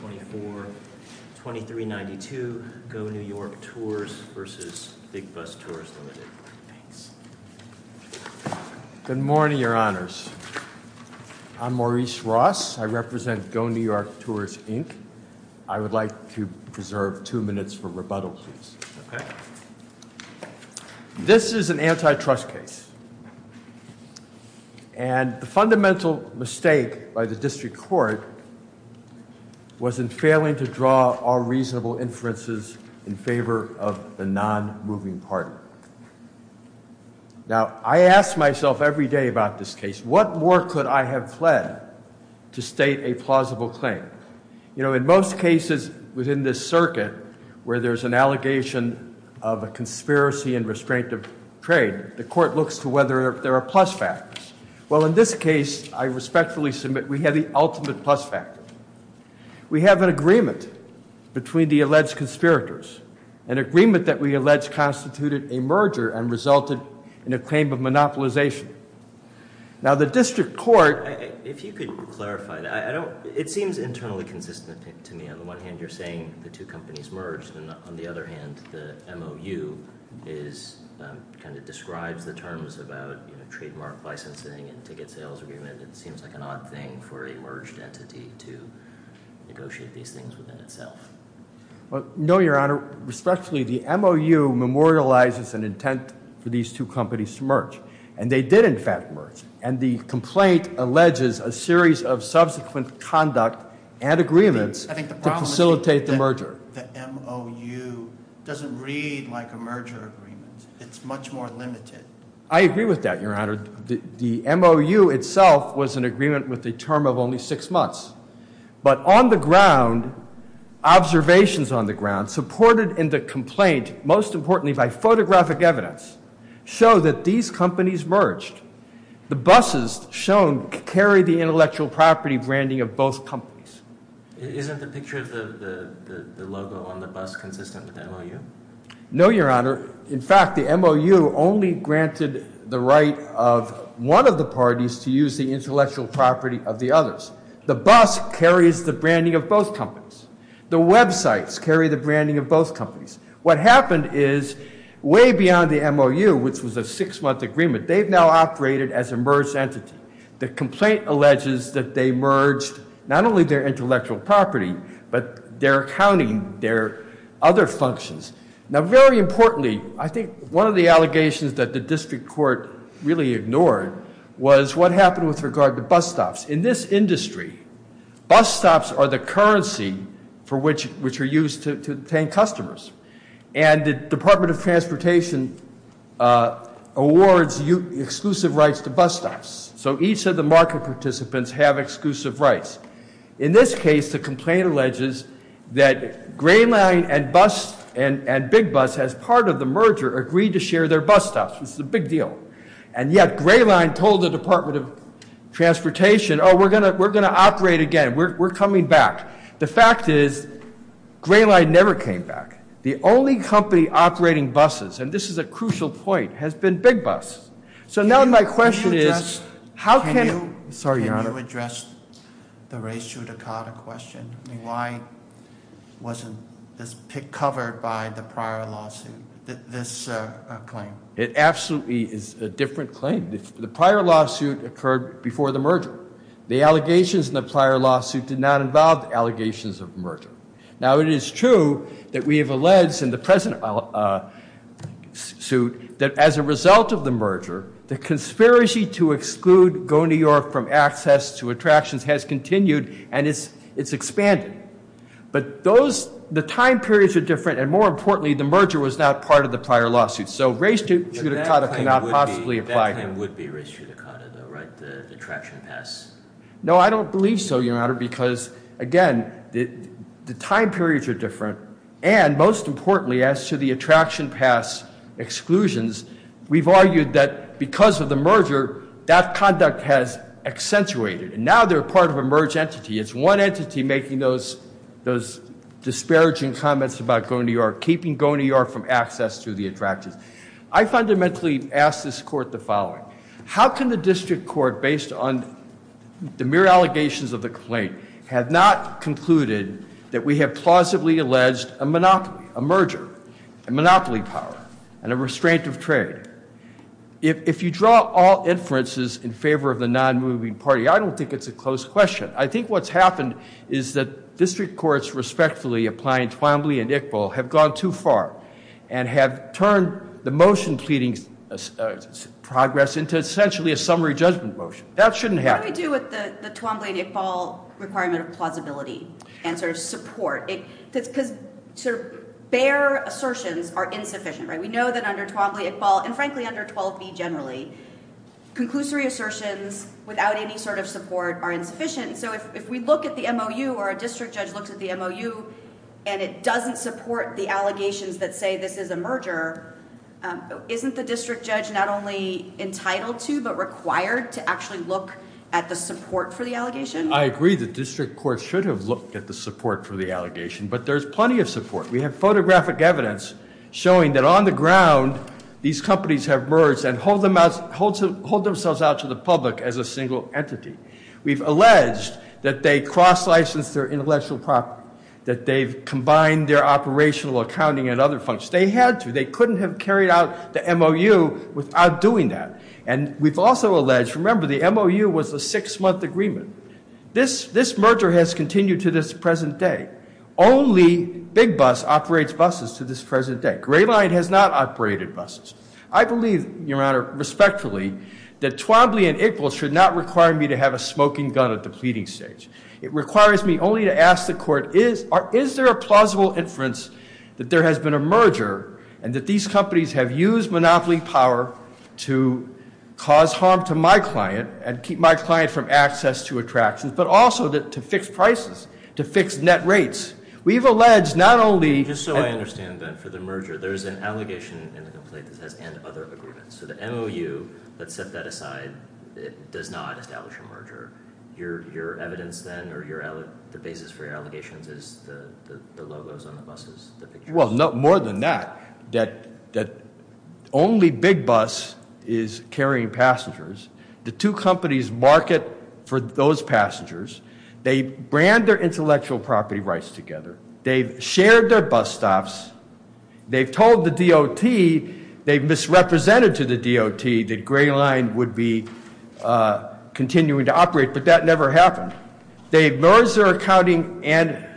2392, Go New York Tours v. Big Bus Tours, Ltd. Good morning, your honors. I'm Maurice Ross. I represent Go New York Tours, Inc. I would like to preserve two minutes for rebuttal, please. This is an antitrust case. And the fundamental mistake by the district court was in failing to draw all reasonable inferences in favor of the non-moving party. Now, I ask myself every day about this case. What more could I have fled to state a plausible claim? You know, in most cases within this circuit, where there's an allegation of a conspiracy and restraint of trade, the court looks to whether there are plus factors. Well, in this case, I respectfully submit we have the ultimate plus factor. We have an agreement between the alleged conspirators, an agreement that we allege constituted a merger and resulted in a claim of monopolization. Now, the district court... If you could clarify, it seems internally consistent to me. On the one hand, you're saying the two companies merged. On the other hand, the MOU kind of describes the terms about trademark licensing and ticket sales agreement. It seems like an odd thing for a merged entity to negotiate these things within itself. No, Your Honor. Respectfully, the MOU memorializes an intent for these two companies to merge. And they did, in fact, merge. And the complaint alleges a series of subsequent conduct and agreements to facilitate the merger. The MOU doesn't read like a merger agreement. It's much more limited. I agree with that, Your Honor. The MOU itself was an agreement with a term of only six months. But on the ground, observations on the ground supported in the complaint, most importantly by photographic evidence, show that these companies merged. The buses shown carry the intellectual property branding of both companies. Isn't the picture of the logo on the bus consistent with the MOU? No, Your Honor. In fact, the MOU only granted the right of one of the parties to use the intellectual property of the others. The bus carries the branding of both companies. The websites carry the branding of both companies. What happened is way beyond the MOU, which was a six-month agreement, they've now operated as a merged entity. The complaint alleges that they merged not only their intellectual property, but their accounting, their other functions. Now, very importantly, I think one of the allegations that the district court really ignored was what happened with regard to bus stops. In this industry, bus stops are the currency for which are used to obtain customers. And the Department of Transportation awards exclusive rights to bus stops. So each of the market participants have exclusive rights. In this case, the complaint alleges that Gray Line and Big Bus, as part of the merger, agreed to share their bus stops. This is a big deal. And yet Gray Line told the Department of Transportation, oh, we're going to operate again, we're coming back. The fact is Gray Line never came back. The only company operating buses, and this is a crucial point, has been Big Bus. So now my question is, how can you address the Ray Sudakota question? Why wasn't this covered by the prior lawsuit, this claim? It absolutely is a different claim. The prior lawsuit occurred before the merger. The allegations in the prior lawsuit did not involve allegations of merger. Now, it is true that we have alleged in the present suit that as a result of the merger, the conspiracy to exclude Go New York from access to attractions has continued and it's expanded. But the time periods are different, and more importantly, the merger was not part of the prior lawsuit. So Ray Sudakota cannot possibly apply here. That claim would be Ray Sudakota, though, right, the attraction pass? No, I don't believe so, Your Honor, because, again, the time periods are different. And most importantly, as to the attraction pass exclusions, we've argued that because of the merger, that conduct has accentuated. And now they're part of a merged entity. It's one entity making those disparaging comments about Go New York, keeping Go New York from access to the attractions. I fundamentally ask this Court the following. How can the district court, based on the mere allegations of the complaint, have not concluded that we have plausibly alleged a merger, a monopoly power, and a restraint of trade? If you draw all inferences in favor of the non-moving party, I don't think it's a close question. I think what's happened is that district courts respectfully applying Twombly and Iqbal have gone too far and have turned the motion pleading progress into essentially a summary judgment motion. That shouldn't happen. What do we do with the Twombly and Iqbal requirement of plausibility and sort of support? Because sort of bare assertions are insufficient, right? We know that under Twombly, Iqbal, and, frankly, under 12B generally, conclusory assertions without any sort of support are insufficient. So if we look at the MOU or a district judge looks at the MOU and it doesn't support the allegations that say this is a merger, isn't the district judge not only entitled to but required to actually look at the support for the allegation? I agree the district court should have looked at the support for the allegation, but there's plenty of support. We have photographic evidence showing that on the ground these companies have merged and hold themselves out to the public as a single entity. We've alleged that they cross-licensed their intellectual property, that they've combined their operational accounting and other functions. They had to. They couldn't have carried out the MOU without doing that. And we've also alleged, remember, the MOU was a six-month agreement. This merger has continued to this present day. Only Big Bus operates buses to this present day. Gray Line has not operated buses. I believe, Your Honor, respectfully, that Twombly and Iqbal should not require me to have a smoking gun at the pleading stage. It requires me only to ask the court is there a plausible inference that there has been a merger and that these companies have used monopoly power to cause harm to my client and keep my client from access to attractions, but also to fix prices, to fix net rates. We've alleged not only- So the MOU that set that aside does not establish a merger. Your evidence then or the basis for your allegations is the logos on the buses, the pictures. Well, more than that, that only Big Bus is carrying passengers. The two companies market for those passengers. They brand their intellectual property rights together. They've shared their bus stops. They've told the DOT, they've misrepresented to the DOT that Gray Line would be continuing to operate, but that never happened. They've merged their accounting and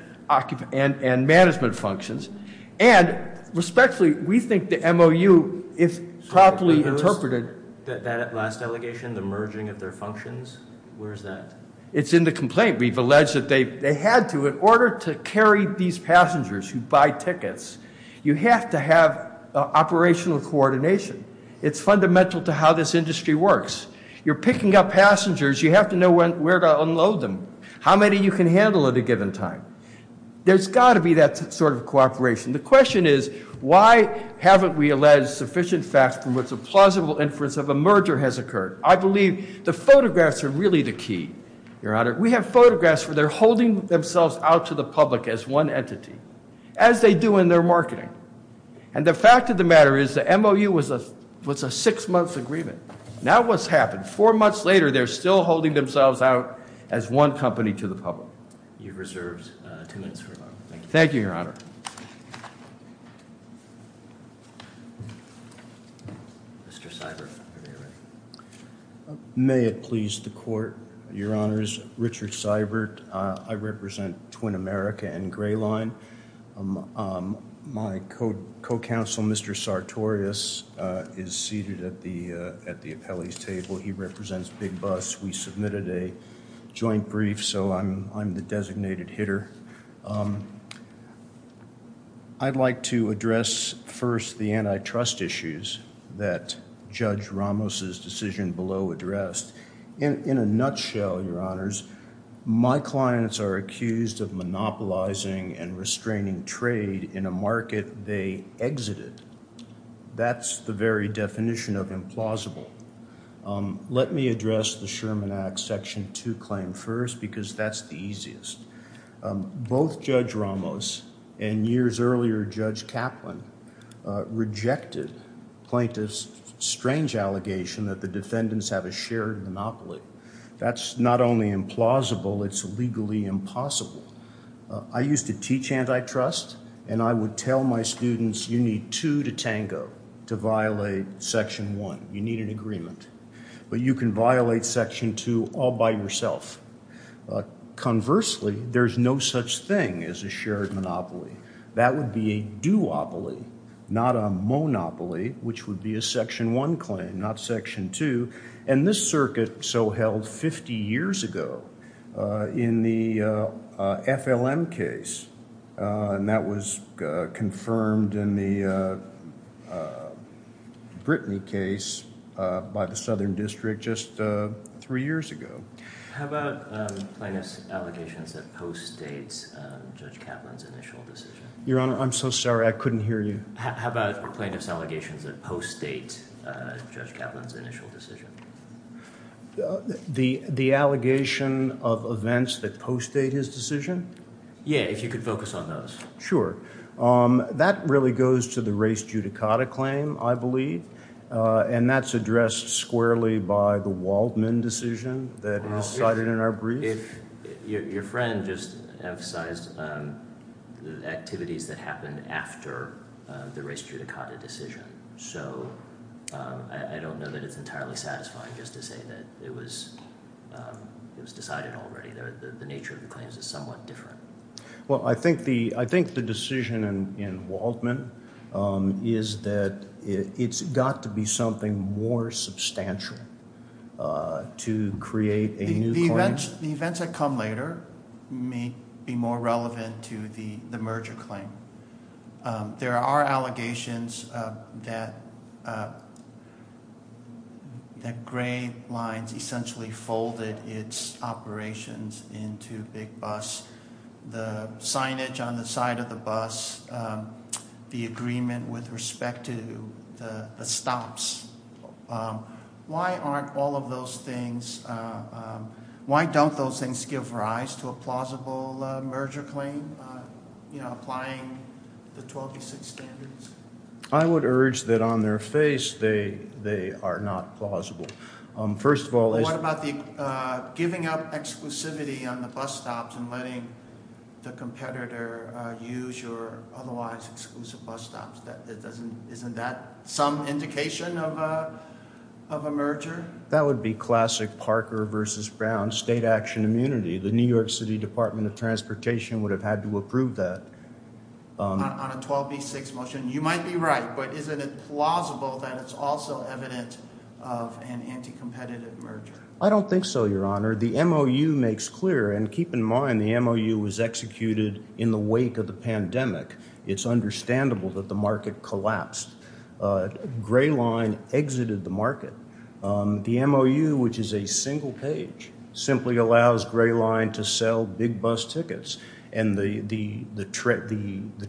management functions. And respectfully, we think the MOU, if properly interpreted- That last allegation, the merging of their functions, where is that? It's in the complaint. We've alleged that they had to. In order to carry these passengers who buy tickets, you have to have operational coordination. It's fundamental to how this industry works. You're picking up passengers. You have to know where to unload them, how many you can handle at a given time. There's got to be that sort of cooperation. The question is why haven't we alleged sufficient facts from which a plausible inference of a merger has occurred? I believe the photographs are really the key, Your Honor. We have photographs where they're holding themselves out to the public as one entity, as they do in their marketing. And the fact of the matter is the MOU was a six-month agreement. Now what's happened? Four months later, they're still holding themselves out as one company to the public. You're reserved two minutes for rebuttal. Thank you, Your Honor. Mr. Seibert, are you ready? May it please the court, Your Honors. Richard Seibert. I represent Twin America and Gray Line. My co-counsel, Mr. Sartorius, is seated at the appellee's table. He represents Big Bus. We submitted a joint brief, so I'm the designated hitter. I'd like to address first the antitrust issues that Judge Ramos's decision below addressed. In a nutshell, Your Honors, my clients are accused of monopolizing and restraining trade in a market they exited. That's the very definition of implausible. Let me address the Sherman Act Section 2 claim first because that's the easiest. Both Judge Ramos and years earlier Judge Kaplan rejected plaintiff's strange allegation that the defendants have a shared monopoly. That's not only implausible, it's legally impossible. I used to teach antitrust, and I would tell my students you need two to tango to violate Section 1. You need an agreement. But you can violate Section 2 all by yourself. Conversely, there's no such thing as a shared monopoly. That would be a duopoly, not a monopoly, which would be a Section 1 claim, not Section 2. And this circuit so held 50 years ago in the FLM case, and that was confirmed in the Brittany case by the Southern District just three years ago. How about plaintiff's allegations that post-date Judge Kaplan's initial decision? Your Honor, I'm so sorry. I couldn't hear you. How about plaintiff's allegations that post-date Judge Kaplan's initial decision? The allegation of events that post-date his decision? Yeah, if you could focus on those. Sure. That really goes to the race judicata claim, I believe. And that's addressed squarely by the Waldman decision that was cited in our brief? Your friend just emphasized the activities that happened after the race judicata decision. So I don't know that it's entirely satisfying just to say that it was decided already. The nature of the claims is somewhat different. Well, I think the decision in Waldman is that it's got to be something more substantial to create a new claim. The events that come later may be more relevant to the merger claim. There are allegations that Gray Lines essentially folded its operations into Big Bus. The signage on the side of the bus, the agreement with respect to the stops. Why aren't all of those things – why don't those things give rise to a plausible merger claim, applying the 1206 standards? I would urge that on their face they are not plausible. What about giving up exclusivity on the bus stops and letting the competitor use your otherwise exclusive bus stops? Isn't that some indication of a merger? That would be classic Parker v. Brown state action immunity. The New York City Department of Transportation would have had to approve that. On a 12B6 motion, you might be right, but isn't it plausible that it's also evident of an anti-competitive merger? I don't think so, Your Honor. The MOU makes clear – and keep in mind the MOU was executed in the wake of the pandemic. It's understandable that the market collapsed. Gray Line exited the market. The MOU, which is a single page, simply allows Gray Line to sell Big Bus tickets. And the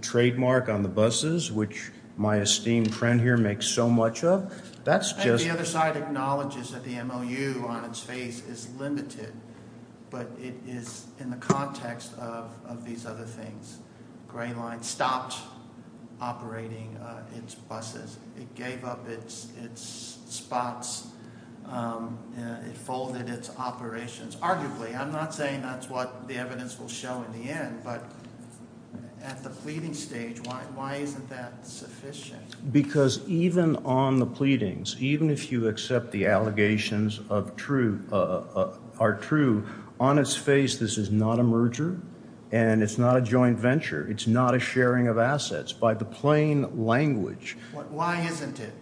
trademark on the buses, which my esteemed friend here makes so much of, that's just – The other side acknowledges that the MOU on its face is limited, but it is in the context of these other things. Gray Line stopped operating its buses. It gave up its spots. It folded its operations. Arguably, I'm not saying that's what the evidence will show in the end, but at the pleading stage, why isn't that sufficient? Because even on the pleadings, even if you accept the allegations are true, on its face, this is not a merger and it's not a joint venture. It's not a sharing of assets. By the plain language – Why isn't it?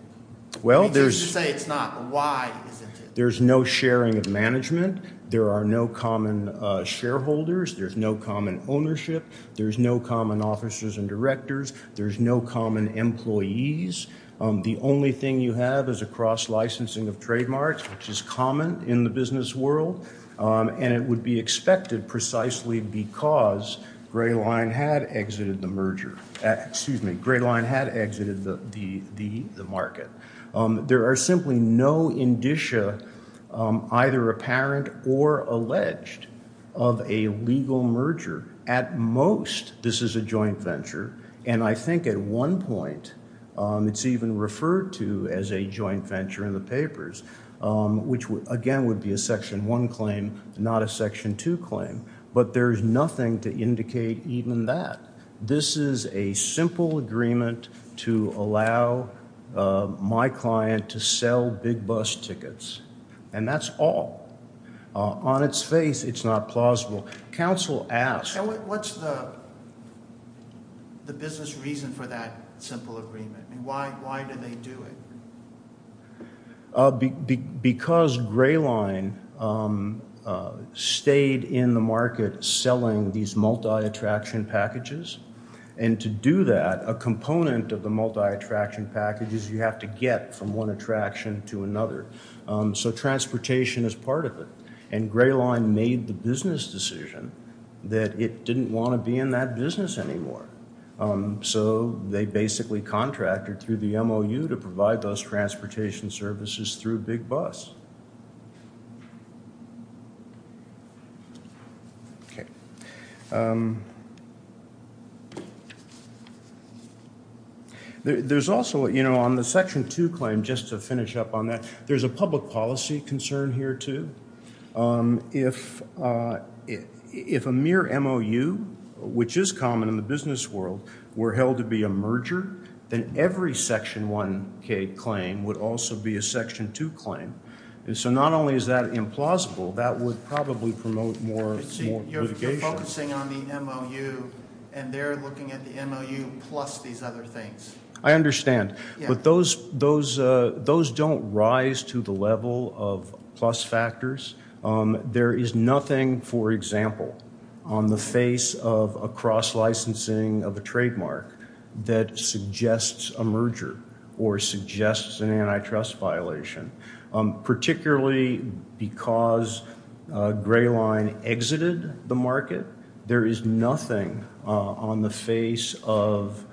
Well, there's – You say it's not. Why isn't it? There's no sharing of management. There are no common shareholders. There's no common ownership. There's no common officers and directors. There's no common employees. The only thing you have is a cross-licensing of trademarks, which is common in the business world, and it would be expected precisely because Gray Line had exited the merger. Excuse me. Gray Line had exited the market. There are simply no indicia, either apparent or alleged, of a legal merger. At most, this is a joint venture, and I think at one point it's even referred to as a joint venture in the papers, which again would be a Section 1 claim, not a Section 2 claim. But there's nothing to indicate even that. This is a simple agreement to allow my client to sell big bus tickets, and that's all. On its face, it's not plausible. What's the business reason for that simple agreement? Why do they do it? Because Gray Line stayed in the market selling these multi-attraction packages, and to do that, a component of the multi-attraction packages you have to get from one attraction to another. So transportation is part of it. And Gray Line made the business decision that it didn't want to be in that business anymore. So they basically contracted through the MOU to provide those transportation services through big bus. Okay. There's also, you know, on the Section 2 claim, just to finish up on that, there's a public policy concern here, too. If a mere MOU, which is common in the business world, were held to be a merger, then every Section 1 claim would also be a Section 2 claim. So not only is that implausible, that would probably promote more litigation. You're focusing on the MOU, and they're looking at the MOU plus these other things. I understand. But those don't rise to the level of plus factors. There is nothing, for example, on the face of a cross-licensing of a trademark that suggests a merger or suggests an antitrust violation. Particularly because Gray Line exited the market, there is nothing on the face of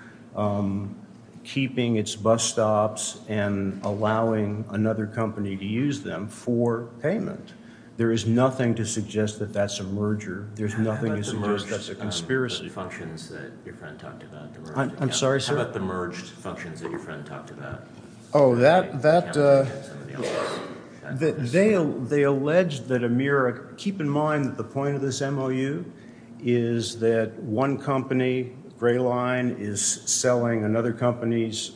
keeping its bus stops and allowing another company to use them for payment. There is nothing to suggest that that's a merger. There's nothing to suggest that's a conspiracy. How about the merged functions that your friend talked about? I'm sorry, sir? How about the merged functions that your friend talked about? Oh, that… They allege that a mere… Keep in mind that the point of this MOU is that one company, Gray Line, is selling another company's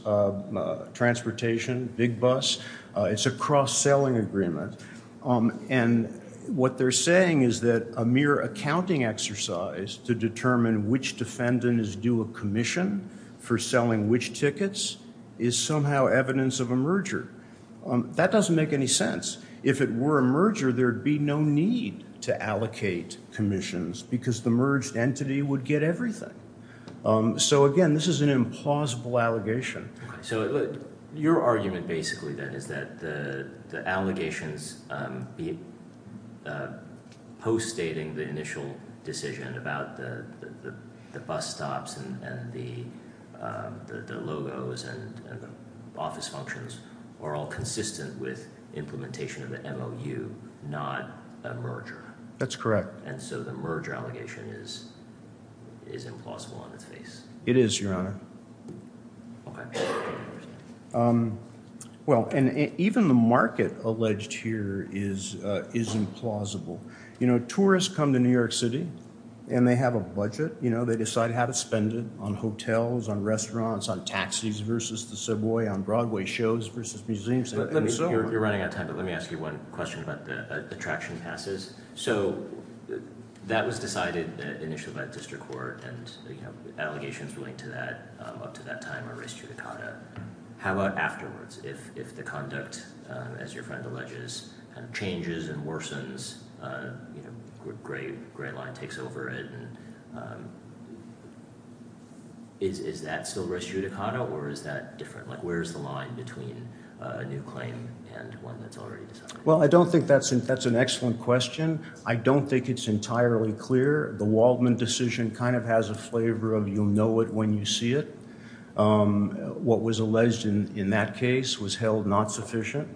transportation, Big Bus. It's a cross-selling agreement. And what they're saying is that a mere accounting exercise to determine which defendant is due a commission for selling which tickets is somehow evidence of a merger. That doesn't make any sense. If it were a merger, there would be no need to allocate commissions because the merged entity would get everything. So, again, this is an implausible allegation. So, your argument, basically, then, is that the allegations, post-stating the initial decision about the bus stops and the logos and the office functions, are all consistent with implementation of the MOU, not a merger. That's correct. And so the merger allegation is implausible on its face. It is, Your Honor. Okay. Well, and even the market alleged here is implausible. You know, tourists come to New York City, and they have a budget. You know, they decide how to spend it on hotels, on restaurants, on taxis versus the subway, on Broadway shows versus museums. You're running out of time, but let me ask you one question about the attraction passes. So that was decided initially by the district court, and, you know, allegations relating to that up to that time are res judicata. How about afterwards? If the conduct, as your friend alleges, changes and worsens, you know, Gray Line takes over it, is that still res judicata, or is that different? Like, where is the line between a new claim and one that's already decided? Well, I don't think that's an excellent question. I don't think it's entirely clear. The Waldman decision kind of has a flavor of you'll know it when you see it. What was alleged in that case was held not sufficient.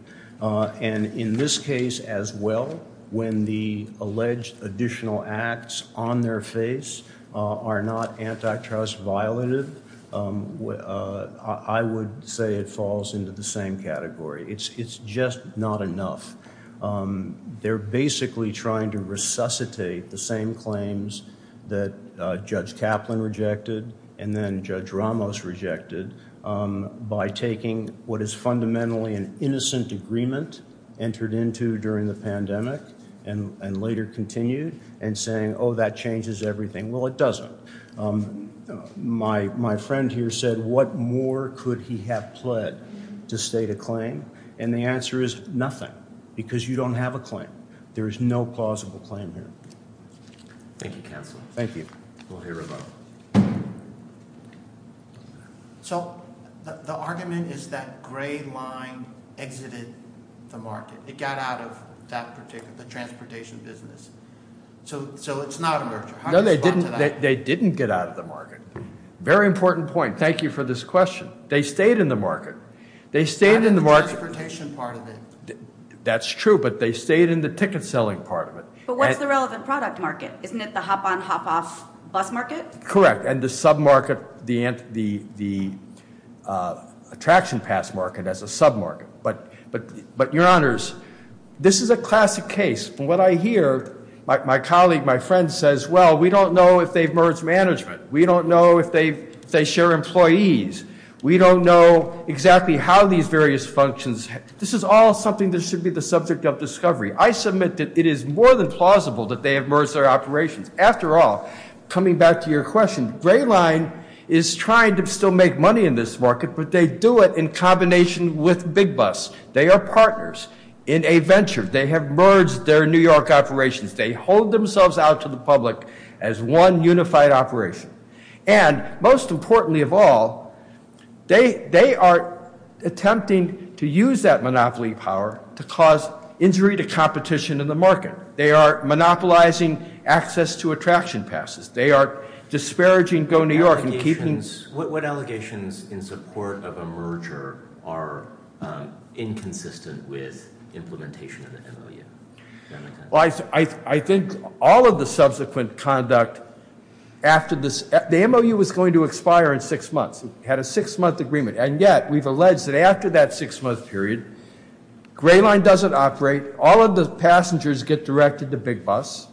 And in this case as well, when the alleged additional acts on their face are not antitrust violated, I would say it falls into the same category. It's just not enough. They're basically trying to resuscitate the same claims that Judge Kaplan rejected and then Judge Ramos rejected by taking what is fundamentally an innocent agreement entered into during the pandemic and later continued and saying, oh, that changes everything. Well, it doesn't. My friend here said, what more could he have pled to state a claim? And the answer is nothing, because you don't have a claim. There is no plausible claim here. Thank you, Counselor. Thank you. We'll hear about it. So the argument is that Gray Line exited the market. It got out of that particular transportation business. So it's not a merger. No, they didn't get out of the market. Very important point. Thank you for this question. They stayed in the market. They stayed in the market. The transportation part of it. That's true, but they stayed in the ticket selling part of it. But what's the relevant product market? Isn't it the hop-on, hop-off bus market? Correct, and the sub-market, the attraction pass market as a sub-market. But, Your Honors, this is a classic case. From what I hear, my colleague, my friend says, well, we don't know if they've merged management. We don't know if they share employees. We don't know exactly how these various functions. This is all something that should be the subject of discovery. I submit that it is more than plausible that they have merged their operations. After all, coming back to your question, Gray Line is trying to still make money in this market, but they do it in combination with Big Bus. They are partners in a venture. They have merged their New York operations. They hold themselves out to the public as one unified operation. And, most importantly of all, they are attempting to use that monopoly power to cause injury to competition in the market. They are monopolizing access to attraction passes. They are disparaging Go New York and keeping- What allegations in support of a merger are inconsistent with implementation of the MOU? I think all of the subsequent conduct after this, the MOU was going to expire in six months. It had a six-month agreement. And yet, we've alleged that after that six-month period, Gray Line doesn't operate. All of the passengers get directed to Big Bus.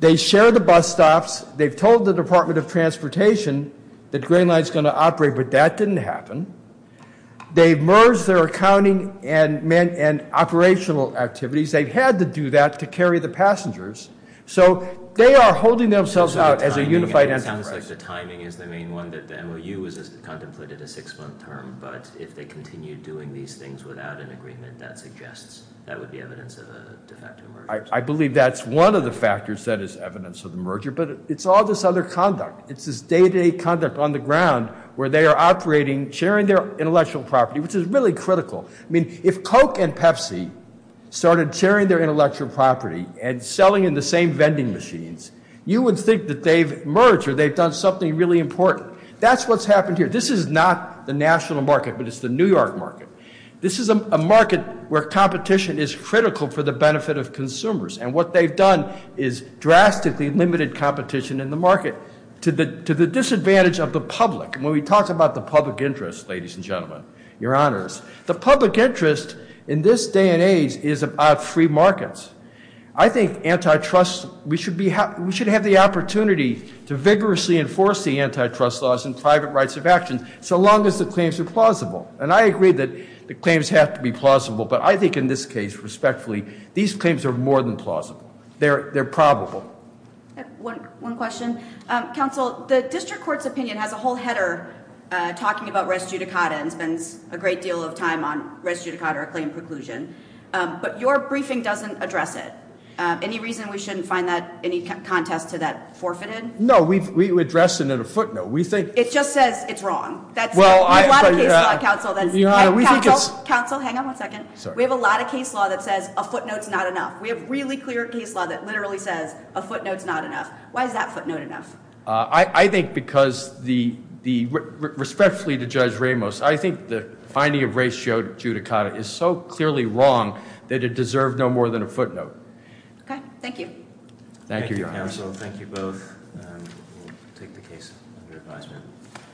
They share the bus stops. They've told the Department of Transportation that Gray Line is going to operate, but that didn't happen. They've merged their accounting and operational activities. They've had to do that to carry the passengers. So, they are holding themselves out as a unified enterprise. It sounds like the timing is the main one that the MOU contemplated a six-month term. But if they continue doing these things without an agreement, that suggests that would be evidence of a de facto merger. I believe that's one of the factors that is evidence of the merger. But it's all this other conduct. It's this day-to-day conduct on the ground where they are operating, sharing their intellectual property, which is really critical. I mean, if Coke and Pepsi started sharing their intellectual property and selling in the same vending machines, you would think that they've merged or they've done something really important. That's what's happened here. This is not the national market, but it's the New York market. This is a market where competition is critical for the benefit of consumers. And what they've done is drastically limited competition in the market to the disadvantage of the public. And when we talk about the public interest, ladies and gentlemen, your honors, the public interest in this day and age is about free markets. I think antitrust, we should have the opportunity to vigorously enforce the antitrust laws and private rights of action so long as the claims are plausible. And I agree that the claims have to be plausible. But I think in this case, respectfully, these claims are more than plausible. They're probable. One question. Counsel, the district court's opinion has a whole header talking about res judicata and spends a great deal of time on res judicata or claim preclusion. But your briefing doesn't address it. Any reason we shouldn't find any contest to that forfeited? No, we address it in a footnote. It just says it's wrong. Counsel, hang on one second. We have a lot of case law that says a footnote's not enough. We have really clear case law that literally says a footnote's not enough. Why is that footnote enough? I think because respectfully to Judge Ramos, I think the finding of res judicata is so clearly wrong that it deserved no more than a footnote. Okay. Thank you. Thank you, your honors. Thank you, counsel. Thank you both. We'll take the case under advisement.